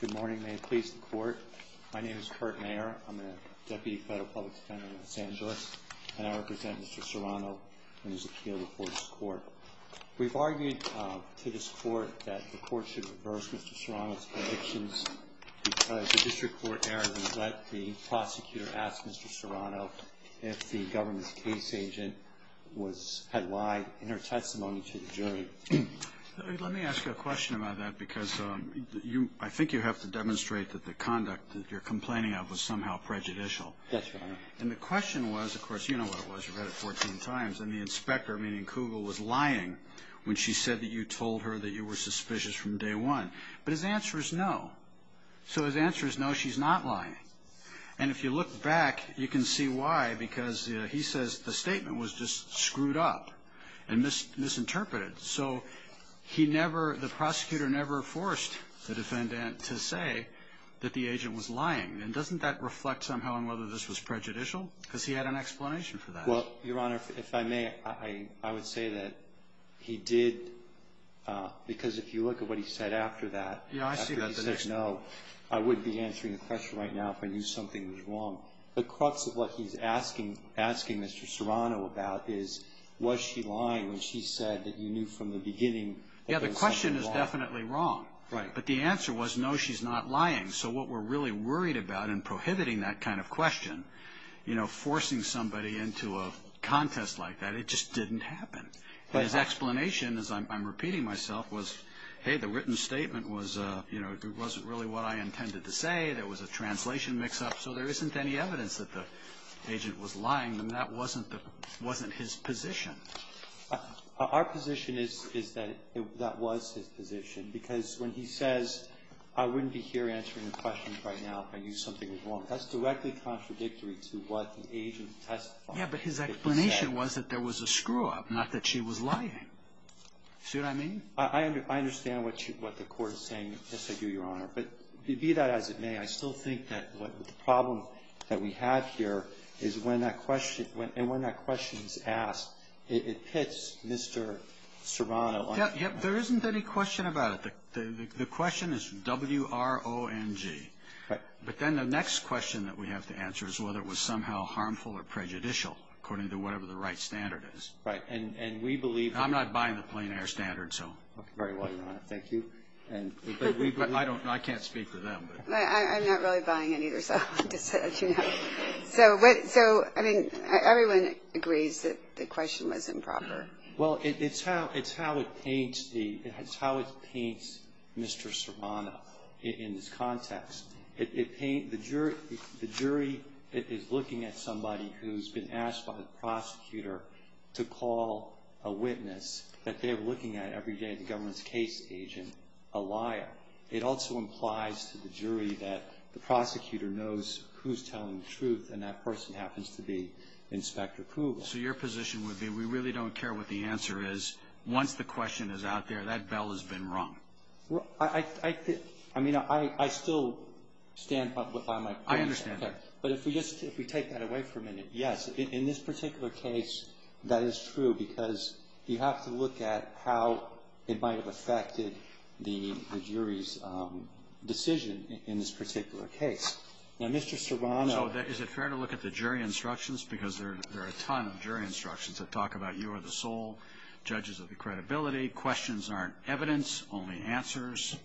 Good morning. May it please the Court. My name is Kurt Mayer. I'm a Deputy Federal Public Defender in Los Angeles, and I represent Mr. Serrano in his appeal before this Court. We've argued to this Court that the Court should reverse Mr. Serrano's convictions because the District Court erred and let the prosecutor ask Mr. Serrano if the government's case agent had lied in her testimony to the jury. Let me ask you a question about that because I think you have to demonstrate that the conduct that you're complaining of was somehow prejudicial. Yes, Your Honor. And the question was, of course, you know what it was. You've read it 14 times. And the inspector, meaning Kugel, was lying when she said that you told her that you were suspicious from day one. But his answer is no. So his answer is no, she's not lying. And if you look back, you can see why because he says the statement was just screwed up and misinterpreted. So he never, the prosecutor never forced the defendant to say that the agent was lying. And doesn't that reflect somehow on whether this was prejudicial because he had an explanation for that? Well, Your Honor, if I may, I would say that he did because if you look at what he said after that. Yeah, I see that. I would be answering the question right now if I knew something was wrong. The crux of what he's asking Mr. Serrano about is was she lying when she said that you knew from the beginning that there was something wrong? Yeah, the question is definitely wrong. But the answer was no, she's not lying. So what we're really worried about in prohibiting that kind of question, you know, forcing somebody into a contest like that, it just didn't happen. But his explanation, as I'm repeating myself, was, hey, the written statement was, you know, it wasn't really what I intended to say. There was a translation mix-up. So there isn't any evidence that the agent was lying. That wasn't his position. Our position is that that was his position because when he says I wouldn't be here answering the question right now if I knew something was wrong, that's directly contradictory to what the agent testified. Yeah, but his explanation was that there was a screw-up, not that she was lying. See what I mean? I understand what the Court is saying. Yes, I do, Your Honor. But be that as it may, I still think that the problem that we have here is when that question is asked, it pits Mr. Serrano. Yeah, there isn't any question about it. The question is W-R-O-N-G. Right. But then the next question that we have to answer is whether it was somehow harmful or prejudicial, according to whatever the right standard is. Right. And we believe that the question was improper. I'm not buying the plain air standard, so. Very well, Your Honor. Thank you. I can't speak for them. I'm not really buying it either, so I'll just let you know. So, I mean, everyone agrees that the question was improper. Well, it's how it paints Mr. Serrano in this context. The jury is looking at somebody who's been asked by the prosecutor to call a witness that they're looking at every day in the government's case agent a liar. It also implies to the jury that the prosecutor knows who's telling the truth, and that person happens to be Inspector Kugel. So your position would be we really don't care what the answer is. Once the question is out there, that bell has been rung. Well, I mean, I still stand by my point. I understand that. But if we just take that away for a minute, yes, in this particular case, that is true because you have to look at how it might have affected the jury's decision in this particular case. Now, Mr. Serrano. So is it fair to look at the jury instructions? Because there are a ton of jury instructions that talk about you are the sole judges of the credibility. Questions aren't evidence, only answers.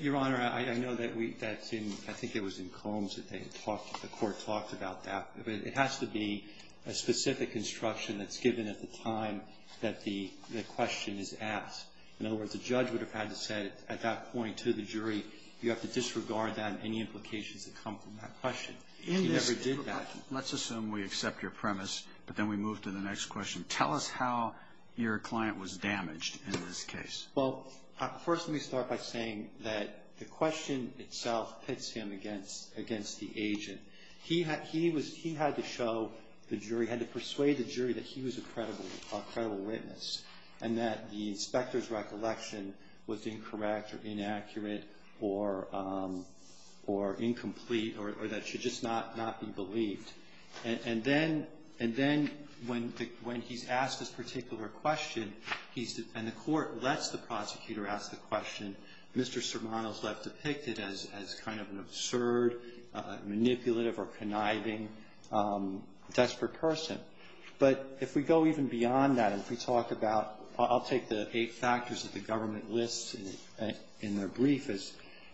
Your Honor, I know that's in, I think it was in Combs that they talked, the Court talked about that. But it has to be a specific instruction that's given at the time that the question is asked. In other words, the judge would have had to say at that point to the jury, you have to disregard that and any implications that come from that question. He never did that. Let's assume we accept your premise, but then we move to the next question. Tell us how your client was damaged in this case. Well, first let me start by saying that the question itself pits him against the agent. He had to show the jury, had to persuade the jury that he was a credible witness and that the inspector's recollection was incorrect or inaccurate or incomplete or that it should just not be believed. And then when he's asked this particular question, he's, and the Court lets the prosecutor ask the question. Mr. Sermano's left depicted as kind of an absurd, manipulative or conniving, desperate person. But if we go even beyond that, if we talk about, I'll take the eight factors that the government lists in their brief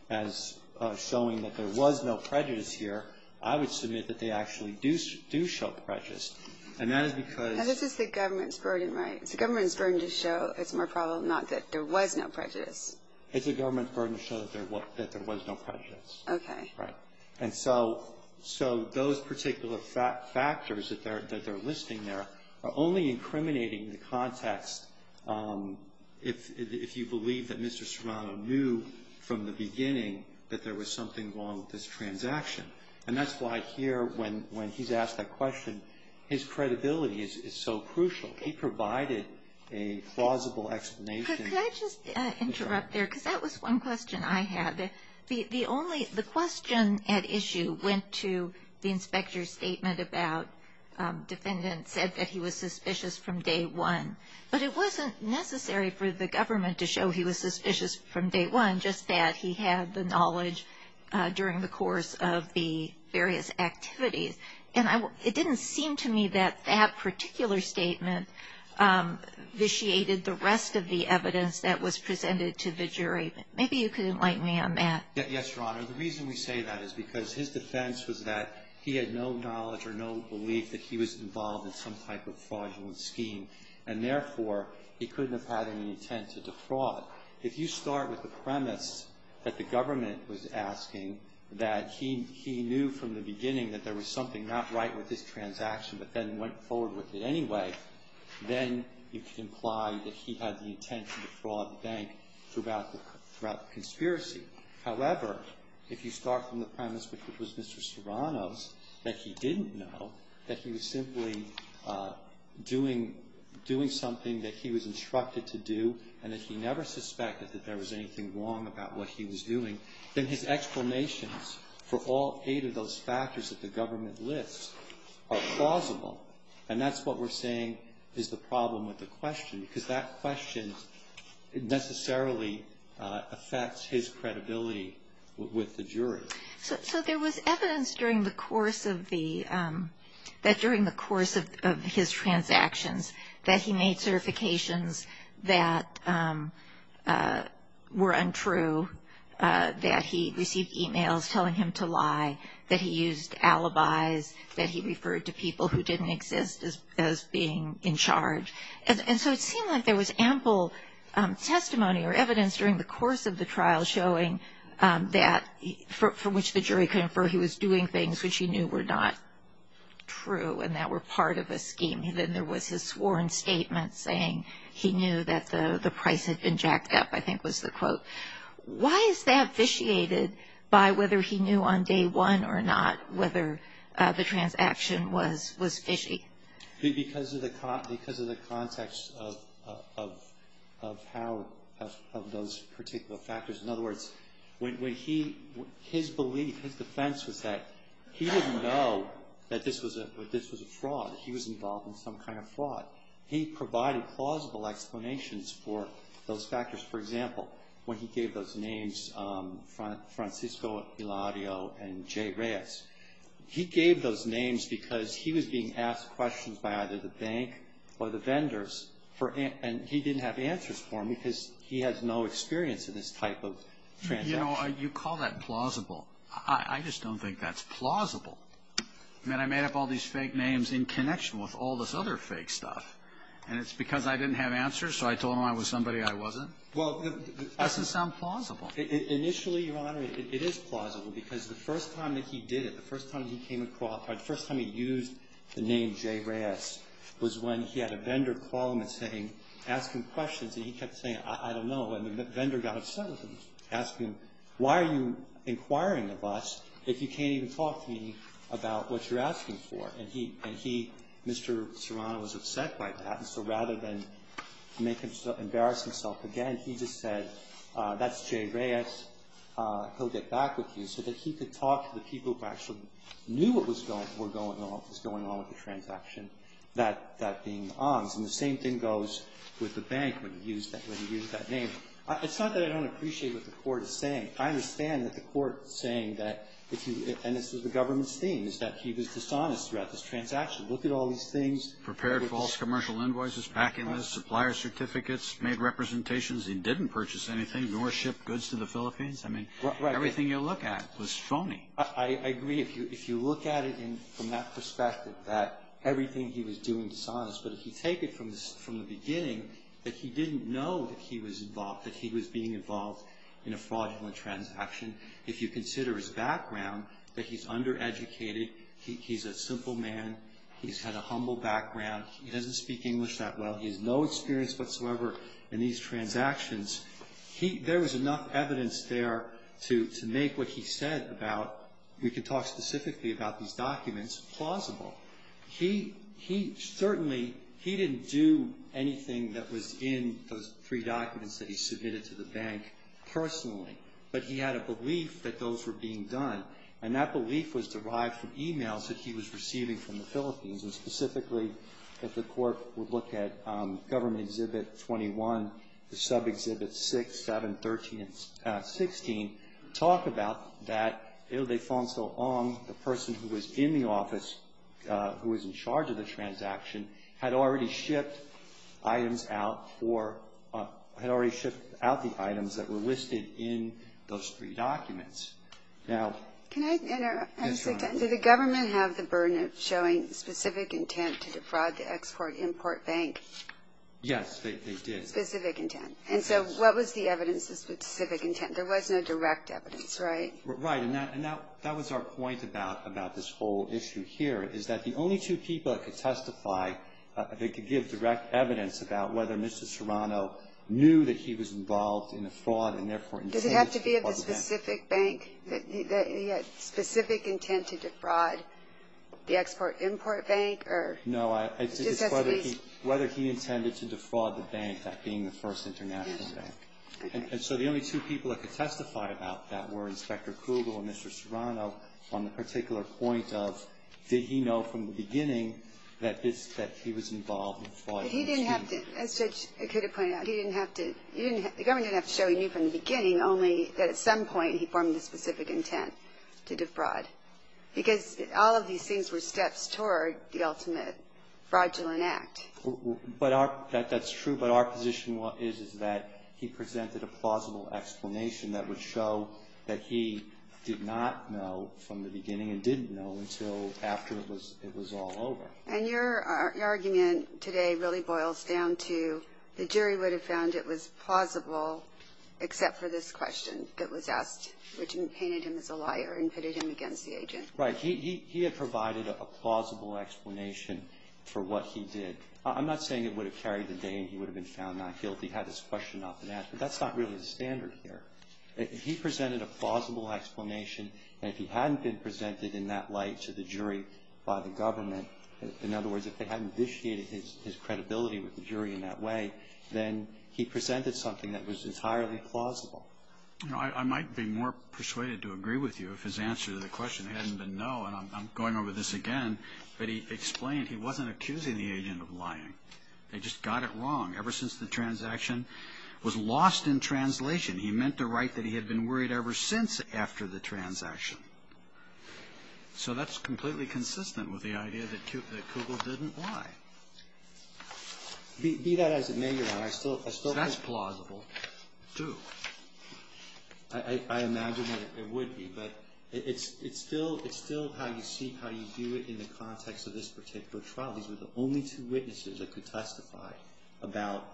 as showing that there was no prejudice here, I would submit that they actually do show prejudice. And that is because Now this is the government's burden, right? It's the government's burden to show, it's more probable not that there was no prejudice. It's the government's burden to show that there was no prejudice. Okay. Right. And so those particular factors that they're listing there are only incriminating the context if you believe that Mr. Sermano knew from the beginning that there was something wrong with this transaction. And that's why here when he's asked that question, his credibility is so crucial. He provided a plausible explanation. Could I just interrupt there? Because that was one question I had. The only, the question at issue went to the inspector's statement about defendant said that he was suspicious from day one. But it wasn't necessary for the government to show he was suspicious from day one, just that he had the knowledge during the course of the various activities. And it didn't seem to me that that particular statement vitiated the rest of the evidence that was presented to the jury. Maybe you could enlighten me on that. Yes, Your Honor. The reason we say that is because his defense was that he had no knowledge or no belief that he was involved in some type of fraudulent scheme. And therefore, he couldn't have had any intent to defraud. If you start with the premise that the government was asking that he knew from the beginning that there was something not right with this transaction but then went forward with it anyway, then you can imply that he had the intent to defraud the bank throughout the conspiracy. However, if you start from the premise which was Mr. Serrano's, that he didn't know, that he was simply doing something that he was instructed to do, and that he never suspected that there was anything wrong about what he was doing, then his explanations for all eight of those factors that the government lists are plausible. And that's what we're saying is the problem with the question, because that question necessarily affects his credibility with the jury. So there was evidence that during the course of his transactions that he made certifications that were untrue, that he received e-mails telling him to lie, that he used alibis, that he referred to people who didn't exist as being in charge. And so it seemed like there was ample testimony or evidence during the course of the trial showing that, from which the jury could infer he was doing things which he knew were not true and that were part of a scheme. And then there was his sworn statement saying he knew that the price had been jacked up, I think was the quote. Why is that vitiated by whether he knew on day one or not whether the transaction was fishy? Because of the context of how those particular factors. In other words, when he, his belief, his defense was that he didn't know that this was a fraud. He was involved in some kind of fraud. He provided plausible explanations for those factors. For example, when he gave those names, Francisco, Eladio, and Jay Reyes, he gave those names because he was being asked questions by either the bank or the vendors, and he didn't have answers for them because he has no experience in this type of transaction. You know, you call that plausible. I just don't think that's plausible. I mean, I made up all these fake names in connection with all this other fake stuff, and it's because I didn't have answers, so I told them I was somebody I wasn't? Well, that doesn't sound plausible. Initially, Your Honor, it is plausible because the first time that he did it, the first time he came across or the first time he used the name Jay Reyes was when he had a vendor call him and say, ask him questions, and he kept saying, I don't know. And the vendor got upset with him, asked him, why are you inquiring of us if you can't even talk to me about what you're asking for? And he, Mr. Serrano, was upset by that, and so rather than make him embarrass himself again, he just said, that's Jay Reyes. He'll get back with you. So that he could talk to the people who actually knew what was going on with the transaction, that being the Ongs. And the same thing goes with the bank when he used that name. It's not that I don't appreciate what the Court is saying. I understand that the Court is saying that, and this is the government's thing, is that he was dishonest throughout this transaction. Look at all these things. Prepared false commercial invoices, packing lists, supplier certificates, made representations he didn't purchase anything, nor ship goods to the Philippines. I mean, everything you look at was phony. I agree. If you look at it from that perspective, that everything he was doing was dishonest. But if you take it from the beginning, that he didn't know that he was involved, that he was being involved in a fraudulent transaction. If you consider his background, that he's undereducated, he's a simple man, he's had a humble background, he doesn't speak English that well, he has no experience whatsoever in these transactions. There was enough evidence there to make what he said about, we could talk specifically about these documents, plausible. He certainly, he didn't do anything that was in those three documents that he submitted to the bank personally, but he had a belief that those were being done, and that belief was derived from e-mails that he was receiving from the Philippines, and specifically, if the Court would look at Government Exhibit 21, the sub-exhibits 6, 7, 13, and 16, talk about that, Il Defonso Ong, the person who was in the office, who was in charge of the transaction, had already shipped items out, or had already shipped out the items that were listed in those three documents. Now, that's right. Do the Government have the burden of showing specific intent to defraud the Export-Import Bank? Yes, they did. Specific intent. And so, what was the evidence of specific intent? There was no direct evidence, right? Right. And that was our point about this whole issue here, is that the only two people that could testify, that could give direct evidence about whether Mr. Serrano knew that he was involved in a fraud, and therefore intended to call the bank. He had specific intent to defraud the Export-Import Bank? No, it's whether he intended to defraud the bank, that being the first international bank. And so, the only two people that could testify about that were Inspector Kugel and Mr. Serrano, on the particular point of, did he know from the beginning that he was involved in fraud? He didn't have to. As Judge Akita pointed out, he didn't have to. The Government didn't have to show he knew from the beginning, only that at some point he formed the specific intent to defraud. Because all of these things were steps toward the ultimate fraudulent act. But our, that's true, but our position is that he presented a plausible explanation that would show that he did not know from the beginning, and didn't know until after it was all over. And your argument today really boils down to, the jury would have found it was plausible except for this question that was asked, which painted him as a liar and pitted him against the agent. Right. He had provided a plausible explanation for what he did. I'm not saying it would have carried the day and he would have been found not guilty, had this question not been asked. But that's not really the standard here. If he presented a plausible explanation, and if he hadn't been presented in that light to the jury by the Government, in other words, if they hadn't initiated his credibility with the jury in that way, then he presented something that was entirely plausible. I might be more persuaded to agree with you if his answer to the question hadn't been no, and I'm going over this again, but he explained he wasn't accusing the agent of lying. They just got it wrong. Ever since the transaction was lost in translation, he meant to write that he had been worried ever since after the transaction. So that's completely consistent with the idea that Kugel didn't lie. Be that as it may, Your Honor, I still think that's plausible, too. I imagine that it would be. But it's still how you see, how you view it in the context of this particular trial. These were the only two witnesses that could testify about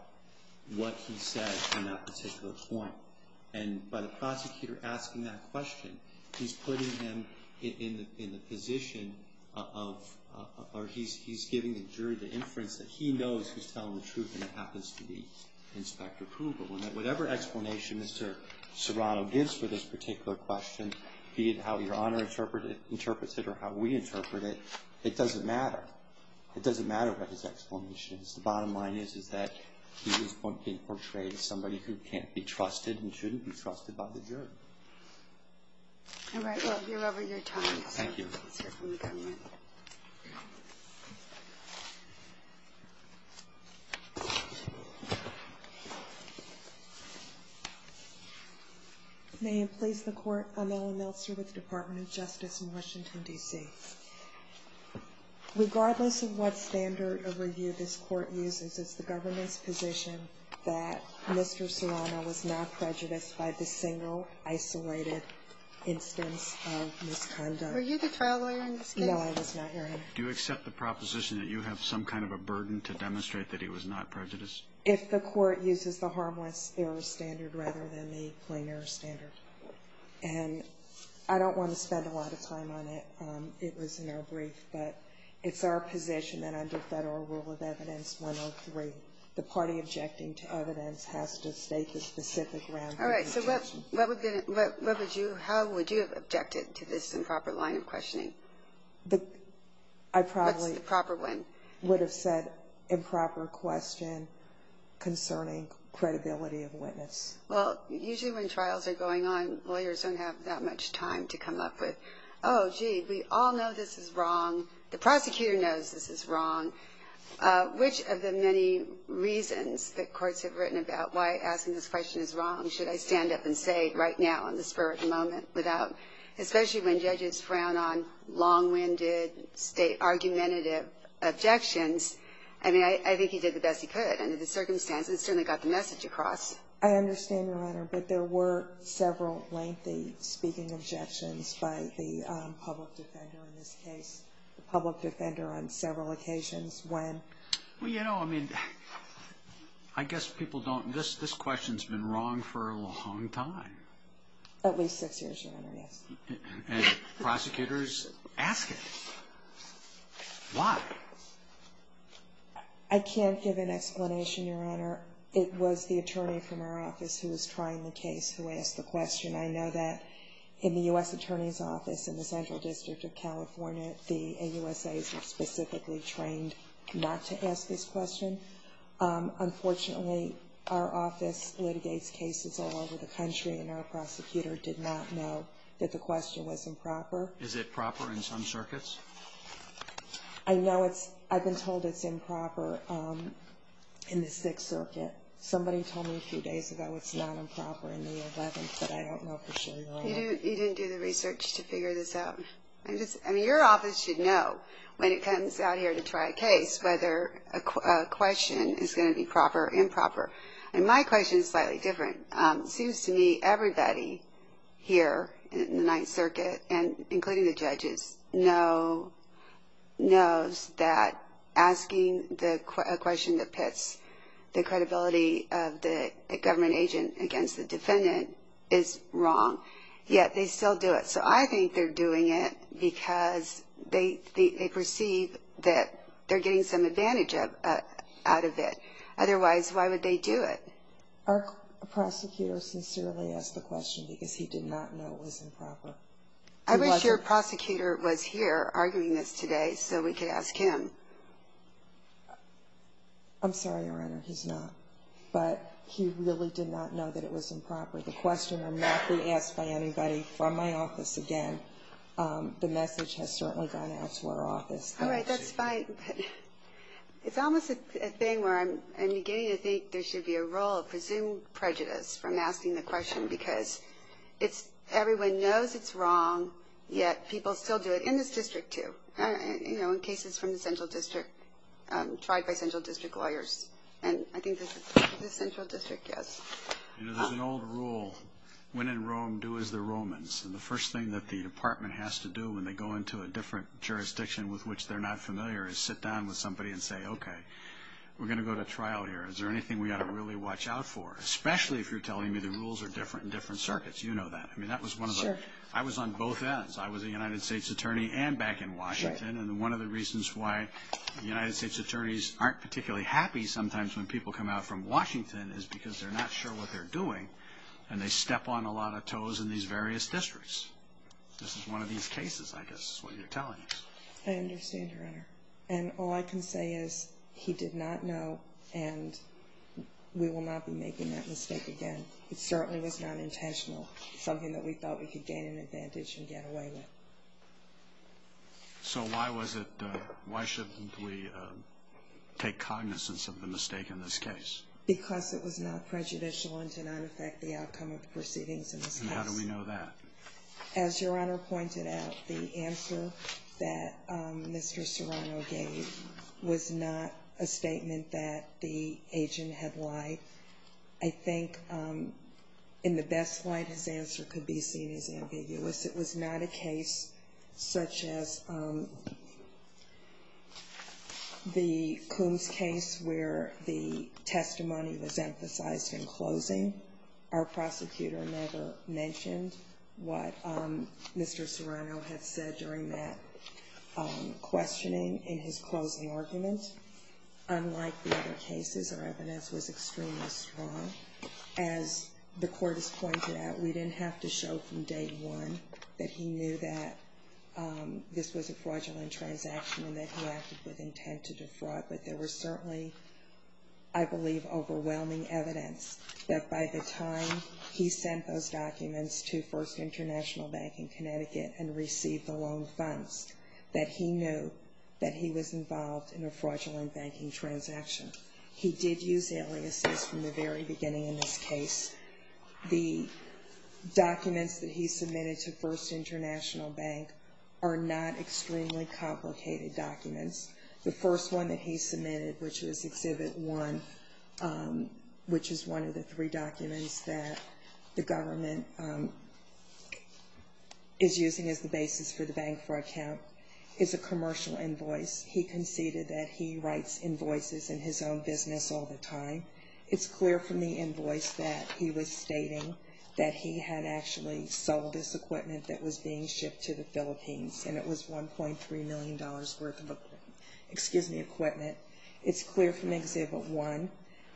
what he said on that particular point. By the prosecutor asking that question, he's putting him in the position of, or he's giving the jury the inference that he knows who's telling the truth, and it happens to be Inspector Kugel. Whatever explanation Mr. Serrano gives for this particular question, be it how Your Honor interprets it or how we interpret it, it doesn't matter. It doesn't matter what his explanation is. The bottom line is that Kugel's point being portrayed as somebody who can't be trusted and shouldn't be trusted by the jury. All right. Well, you're over your time. Thank you. May it please the Court. I'm Ellen Meltzer with the Department of Justice in Washington, D.C. Regardless of what standard of review this Court uses, it's the government's position that Mr. Serrano was not prejudiced by the single isolated instance of misconduct. Were you the trial lawyer in this case? No, I was not, Your Honor. Do you accept the proposition that you have some kind of a burden to demonstrate that he was not prejudiced? If the Court uses the harmless error standard rather than the plain error standard. And I don't want to spend a lot of time on it. It was in our brief. But it's our position that under Federal Rule of Evidence 103, the party objecting to evidence has to state the specific ground for the objection. All right. So how would you have objected to this improper line of questioning? I probably would have said improper question concerning credibility of witness. Well, usually when trials are going on, lawyers don't have that much time to come up with, oh, gee, we all know this is wrong. The prosecutor knows this is wrong. Which of the many reasons that courts have written about why asking this question is wrong should I stand up and say right now in the spur of the moment without especially when judges frown on long-winded state argumentative objections? I mean, I think he did the best he could under the circumstances and certainly got the message across. I understand, Your Honor, but there were several lengthy speaking objections by the public defender in this case, the public defender on several occasions when. Well, you know, I mean, I guess people don't. This question's been wrong for a long time. At least six years, Your Honor, yes. And prosecutors ask it. Why? I can't give an explanation, Your Honor. It was the attorney from our office who was trying the case who asked the question. I know that in the U.S. Attorney's Office in the Central District of California, the AUSAs are specifically trained not to ask this question. Unfortunately, our office litigates cases all over the country, and our prosecutor did not know that the question was improper. Is it proper in some circuits? I know it's – I've been told it's improper in the Sixth Circuit. Somebody told me a few days ago it's not improper in the Eleventh, but I don't know for sure, Your Honor. You didn't do the research to figure this out? I mean, your office should know when it comes out here to try a case whether a question is going to be proper or improper, and my question is slightly different. It seems to me everybody here in the Ninth Circuit, including the judges, knows that asking a question that pits the credibility of the government agent against the defendant is wrong, yet they still do it. So I think they're doing it because they perceive that they're getting some advantage out of it. Otherwise, why would they do it? Our prosecutor sincerely asked the question because he did not know it was improper. I wish your prosecutor was here arguing this today so we could ask him. I'm sorry, Your Honor. He's not. But he really did not know that it was improper. The question will not be asked by anybody from my office again. The message has certainly gone out to our office. All right. That's fine. It's almost a thing where I'm beginning to think there should be a role of presumed prejudice from asking the question because everyone knows it's wrong, yet people still do it in this district too, in cases from the Central District, tried by Central District lawyers. And I think the Central District does. You know, there's an old rule, when in Rome, do as the Romans. And the first thing that the department has to do when they go into a different jurisdiction with which they're not familiar is sit down with somebody and say, okay, we're going to go to trial here. Is there anything we ought to really watch out for, especially if you're telling me the rules are different in different circuits? You know that. I mean, that was one of the – I was on both ends. I was a United States attorney and back in Washington, and one of the reasons why the United States attorneys aren't particularly happy sometimes when people come out from Washington is because they're not sure what they're doing and they step on a lot of toes in these various districts. This is one of these cases, I guess, is what you're telling us. I understand, Your Honor. And all I can say is he did not know, and we will not be making that mistake again. It certainly was not intentional. It's something that we thought we could gain an advantage and get away with. So why was it – why shouldn't we take cognizance of the mistake in this case? Because it was not prejudicial and did not affect the outcome of the proceedings in this case. And how do we know that? As Your Honor pointed out, the answer that Mr. Serrano gave was not a statement that the agent had lied. I think in the best light his answer could be seen as ambiguous. It was not a case such as the Coombs case where the testimony was emphasized in closing. Our prosecutor never mentioned what Mr. Serrano had said during that questioning in his closing argument. Unlike the other cases, our evidence was extremely strong. As the court has pointed out, we didn't have to show from day one that he knew that this was a fraudulent transaction and that he acted with intent to defraud. But there was certainly, I believe, overwhelming evidence that by the time he sent those documents to First International Bank in Connecticut and received the loan funds, that he knew that he was involved in a fraudulent banking transaction. He did use aliases from the very beginning in this case. The documents that he submitted to First International Bank are not extremely complicated documents. The first one that he submitted, which was Exhibit 1, which is one of the three documents that the government is using as the basis for the bank fraud count, is a commercial invoice. He conceded that he writes invoices in his own business all the time. It's clear from the invoice that he was stating that he had actually sold this equipment that was being shipped to the Philippines, and it was $1.3 million worth of equipment. It's clear from Exhibit 1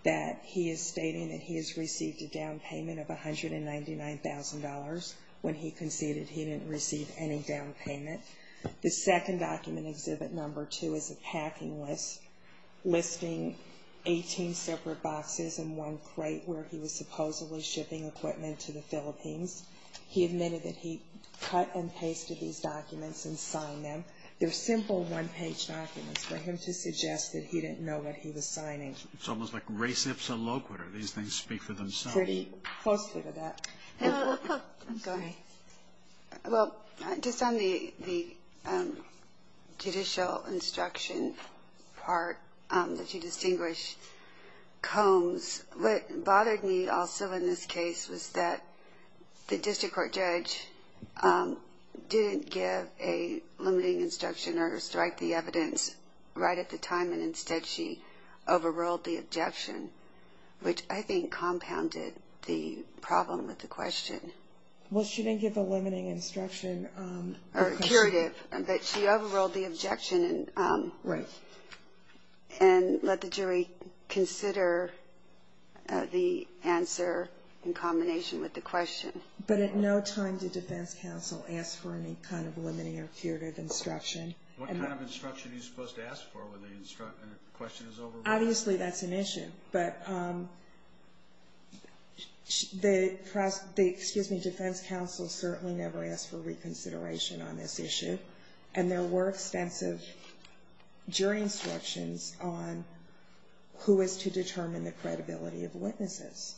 that he is stating that he has received a down payment of $199,000 when he conceded he didn't receive any down payment. The second document, Exhibit 2, is a packing list listing 18 separate boxes in one crate where he was supposedly shipping equipment to the Philippines. He admitted that he cut and pasted these documents and signed them. They're simple one-page documents for him to suggest that he didn't know what he was signing. It's almost like res ipsa loquitur. These things speak for themselves. Pretty closely to that. Go ahead. Well, just on the judicial instruction part that you distinguish combs, what bothered me also in this case was that the district court judge didn't give a limiting instruction or strike the evidence right at the time, and instead she overruled the objection, which I think compounded the problem with the question. Well, she didn't give a limiting instruction. Or curative, but she overruled the objection. Right. And let the jury consider the answer in combination with the question. But at no time did defense counsel ask for any kind of limiting or curative instruction. What kind of instruction are you supposed to ask for when the question is overruled? Obviously, that's an issue. But the defense counsel certainly never asked for reconsideration on this issue, and there were extensive jury instructions on who is to determine the credibility of witnesses.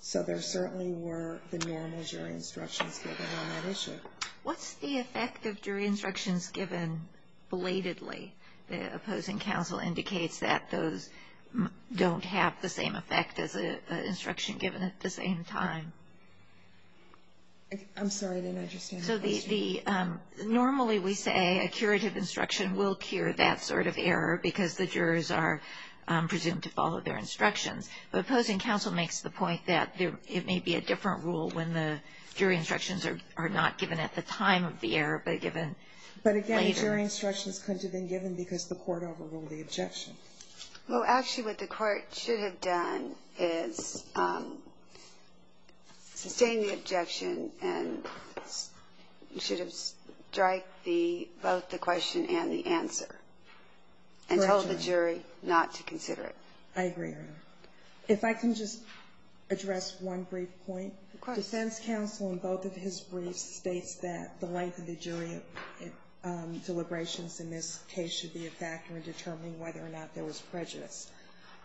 So there certainly were the normal jury instructions given on that issue. What's the effect of jury instructions given belatedly? The opposing counsel indicates that those don't have the same effect as an instruction given at the same time. I'm sorry, I didn't understand the question. So the normally we say a curative instruction will cure that sort of error because the jurors are presumed to follow their instructions. But opposing counsel makes the point that it may be a different rule when the jury instructions are not given at the time of the error, but given later. But again, jury instructions couldn't have been given because the court overruled the objection. Well, actually, what the court should have done is sustained the objection and should have striked the question and the answer and told the jury not to consider it. I agree, Your Honor. If I can just address one brief point. The defense counsel in both of his briefs states that the length of the jury deliberations in this case should be a factor in determining whether or not there was prejudice.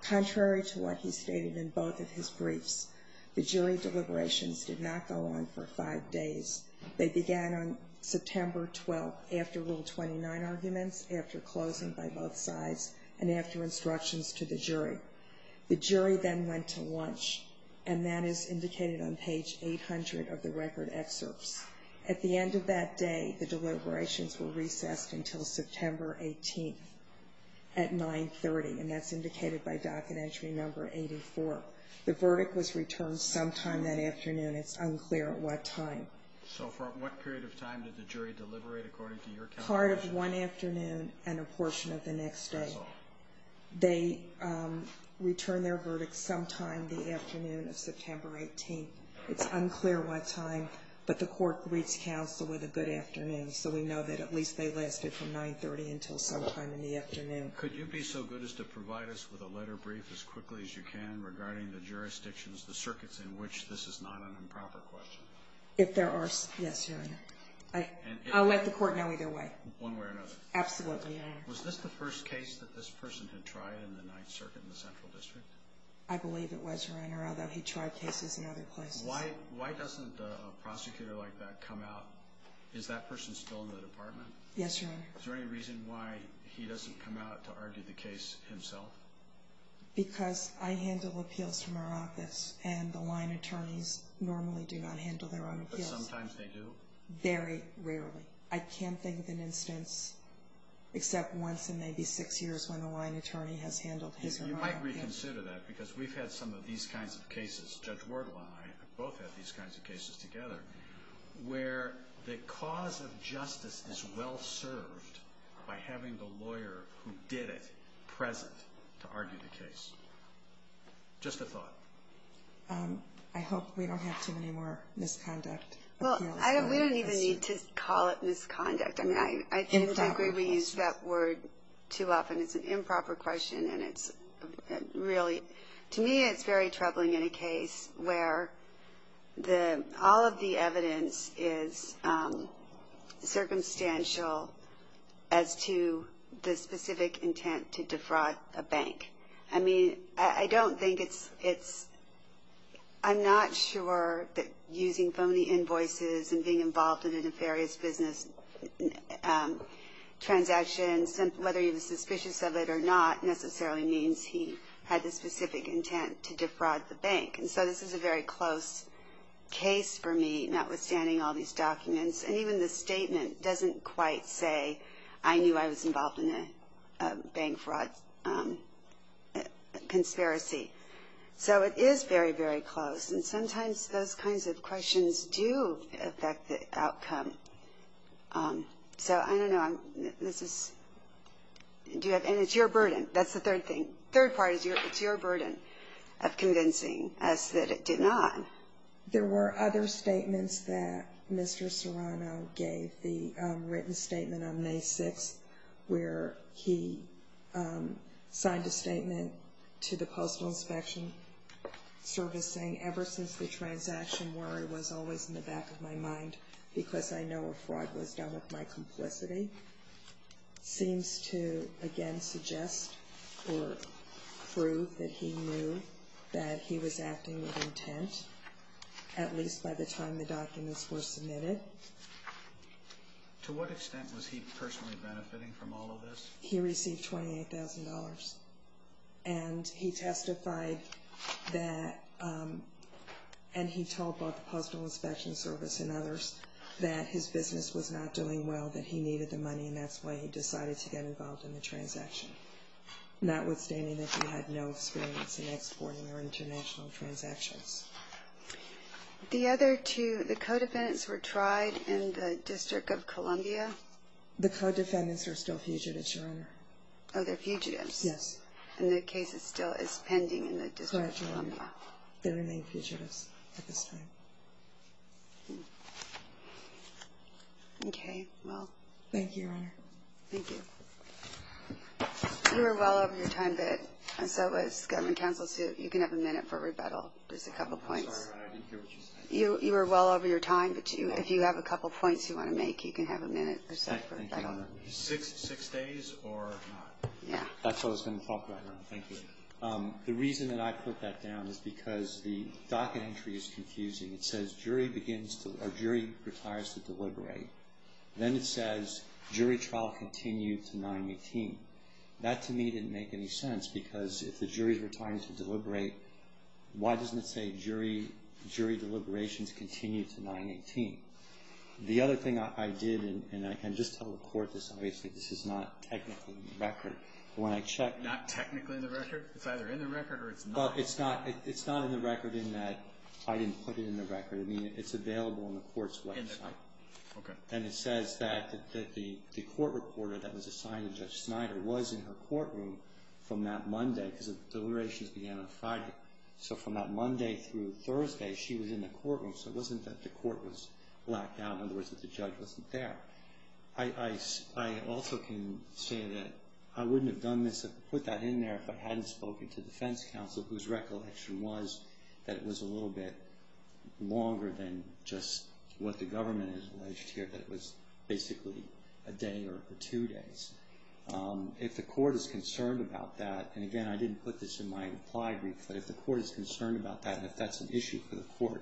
Contrary to what he stated in both of his briefs, the jury deliberations did not go on for five days. They began on September 12th after Rule 29 arguments, after closing by both sides, and after instructions to the jury. The jury then went to lunch, and that is indicated on page 800 of the record excerpts. At the end of that day, the deliberations were recessed until September 18th at 9.30, and that's indicated by docket entry number 84. The verdict was returned sometime that afternoon. It's unclear at what time. So for what period of time did the jury deliberate according to your calculation? Part of one afternoon and a portion of the next day. That's all. They returned their verdict sometime the afternoon of September 18th. It's unclear what time, but the court greets counsel with a good afternoon, so we know that at least they lasted from 9.30 until sometime in the afternoon. Could you be so good as to provide us with a letter brief as quickly as you can regarding the jurisdictions, the circuits in which this is not an improper question? If there are, yes, Your Honor. I'll let the court know either way. One way or another. Absolutely, Your Honor. Was this the first case that this person had tried in the Ninth Circuit in the Central District? I believe it was, Your Honor, although he tried cases in other places. Why doesn't a prosecutor like that come out? Is that person still in the department? Yes, Your Honor. Is there any reason why he doesn't come out to argue the case himself? Because I handle appeals from our office, and the line attorneys normally do not handle their own appeals. But sometimes they do? Very rarely. I can't think of an instance except once in maybe six years when a line attorney has handled his or her own appeal. You might reconsider that because we've had some of these kinds of cases. Judge Wardle and I have both had these kinds of cases together where the cause of justice is well served by having the lawyer who did it present to argue the case. Just a thought. I hope we don't have too many more misconduct appeals. Well, we don't even need to call it misconduct. I think we use that word too often. It's an improper question, and it's really, to me, it's very troubling in a case. Where all of the evidence is circumstantial as to the specific intent to defraud a bank. I mean, I don't think it's – I'm not sure that using phony invoices and being involved in a nefarious business transaction, whether he was suspicious of it or not, necessarily means he had the specific intent to defraud the bank. And so this is a very close case for me, notwithstanding all these documents. And even the statement doesn't quite say, I knew I was involved in a bank fraud conspiracy. So it is very, very close. And sometimes those kinds of questions do affect the outcome. So I don't know. This is – and it's your burden. That's the third thing. It's your burden of convincing us that it did not. There were other statements that Mr. Serrano gave, the written statement on May 6th, where he signed a statement to the Postal Inspection Service saying, ever since the transaction, worry was always in the back of my mind because I know a fraud was done with my complicity. It seems to, again, suggest or prove that he knew that he was acting with intent, at least by the time the documents were submitted. To what extent was he personally benefiting from all of this? He received $28,000, and he testified that – and he told both the Postal Inspection Service and others that his business was not doing well, that he needed the money, and that's why he decided to get involved in the transaction, notwithstanding that he had no experience in exporting or international transactions. The other two, the co-defendants were tried in the District of Columbia. The co-defendants are still fugitives, Your Honor. Oh, they're fugitives. And the case is still pending in the District of Columbia. They remain fugitives at this time. Okay, well. Thank you, Your Honor. Thank you. You were well over your time bit, and so as government counsels do, you can have a minute for rebuttal, just a couple points. I'm sorry, Your Honor, I didn't hear what you said. You were well over your time, but if you have a couple points you want to make, you can have a minute or so for rebuttal. Thank you, Your Honor. Six days or not? Yeah. That's what I was going to talk about, Your Honor. Thank you. The reason that I put that down is because the docket entry is confusing. It says, jury retires to deliberate. Then it says, jury trial continued to 9-18. That, to me, didn't make any sense, because if the jury retires to deliberate, why doesn't it say jury deliberations continue to 9-18? The other thing I did, and I can just tell the Court this, obviously, this is not technically in the record. Not technically in the record? It's either in the record or it's not? It's not in the record in that I didn't put it in the record. I mean, it's available on the Court's website. Okay. And it says that the court reporter that was assigned to Judge Snyder was in her courtroom from that Monday, because the deliberations began on Friday. So from that Monday through Thursday, she was in the courtroom, so it wasn't that the court was blacked out. In other words, that the judge wasn't there. I also can say that I wouldn't have put that in there if I hadn't spoken to defense counsel, whose recollection was that it was a little bit longer than just what the government has alleged here, that it was basically a day or two days. If the Court is concerned about that, and again, I didn't put this in my implied brief, but if the Court is concerned about that, and if that's an issue for the Court,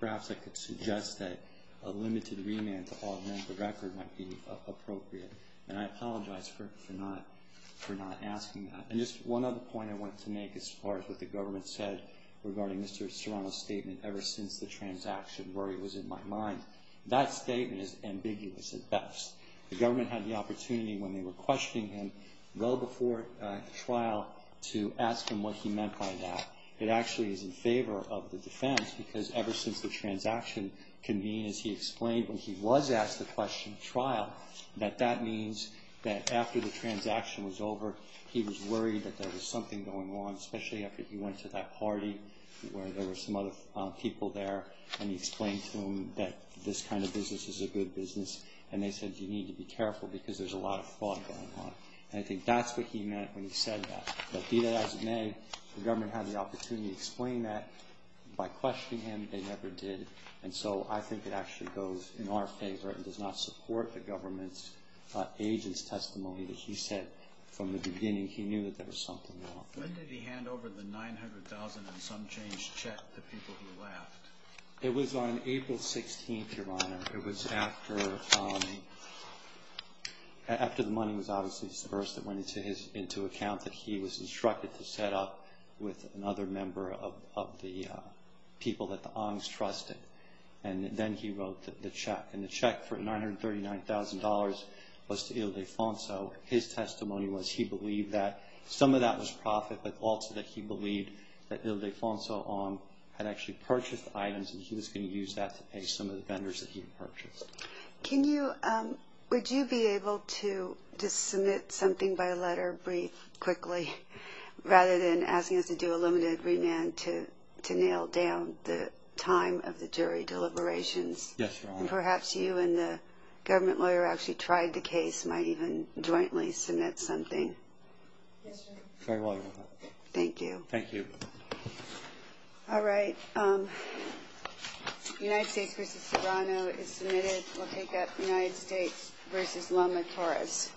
perhaps I could suggest that a limited remand to augment the record might be appropriate. And I apologize for not asking that. And just one other point I wanted to make as far as what the government said regarding Mr. Serrano's statement, ever since the transaction where he was in my mind, that statement is ambiguous at best. The government had the opportunity when they were questioning him, well before trial, to ask him what he meant by that. It actually is in favor of the defense because ever since the transaction convened, as he explained, when he was asked the question at trial, that that means that after the transaction was over, he was worried that there was something going on, especially after he went to that party where there were some other people there, and he explained to them that this kind of business is a good business, and they said you need to be careful because there's a lot of fraud going on. And I think that's what he meant when he said that. But be that as it may, the government had the opportunity to explain that by questioning him, they never did. And so I think it actually goes in our favor and does not support the government's agent's testimony that he said from the beginning he knew that there was something wrong. When did he hand over the $900,000 and some change check to people who left? It was on April 16th, Your Honor. It was after the money was obviously disbursed, it went into account that he was instructed to set up with another member of the people that the Ongs trusted, and then he wrote the check. And the check for $939,000 was to Ildefonso. His testimony was he believed that some of that was profit, but also that he believed that Ildefonso Ong had actually purchased the items and he was going to use that to pay some of the vendors that he had purchased. Would you be able to just submit something by letter, briefly, quickly, rather than asking us to do a limited remand to nail down the time of the jury deliberations? Yes, Your Honor. And perhaps you and the government lawyer who actually tried the case might even jointly submit something. Yes, Your Honor. Very well, Your Honor. Thank you. Thank you. All right. United States v. Serrano is submitted. We'll take that United States v. Lama Torres.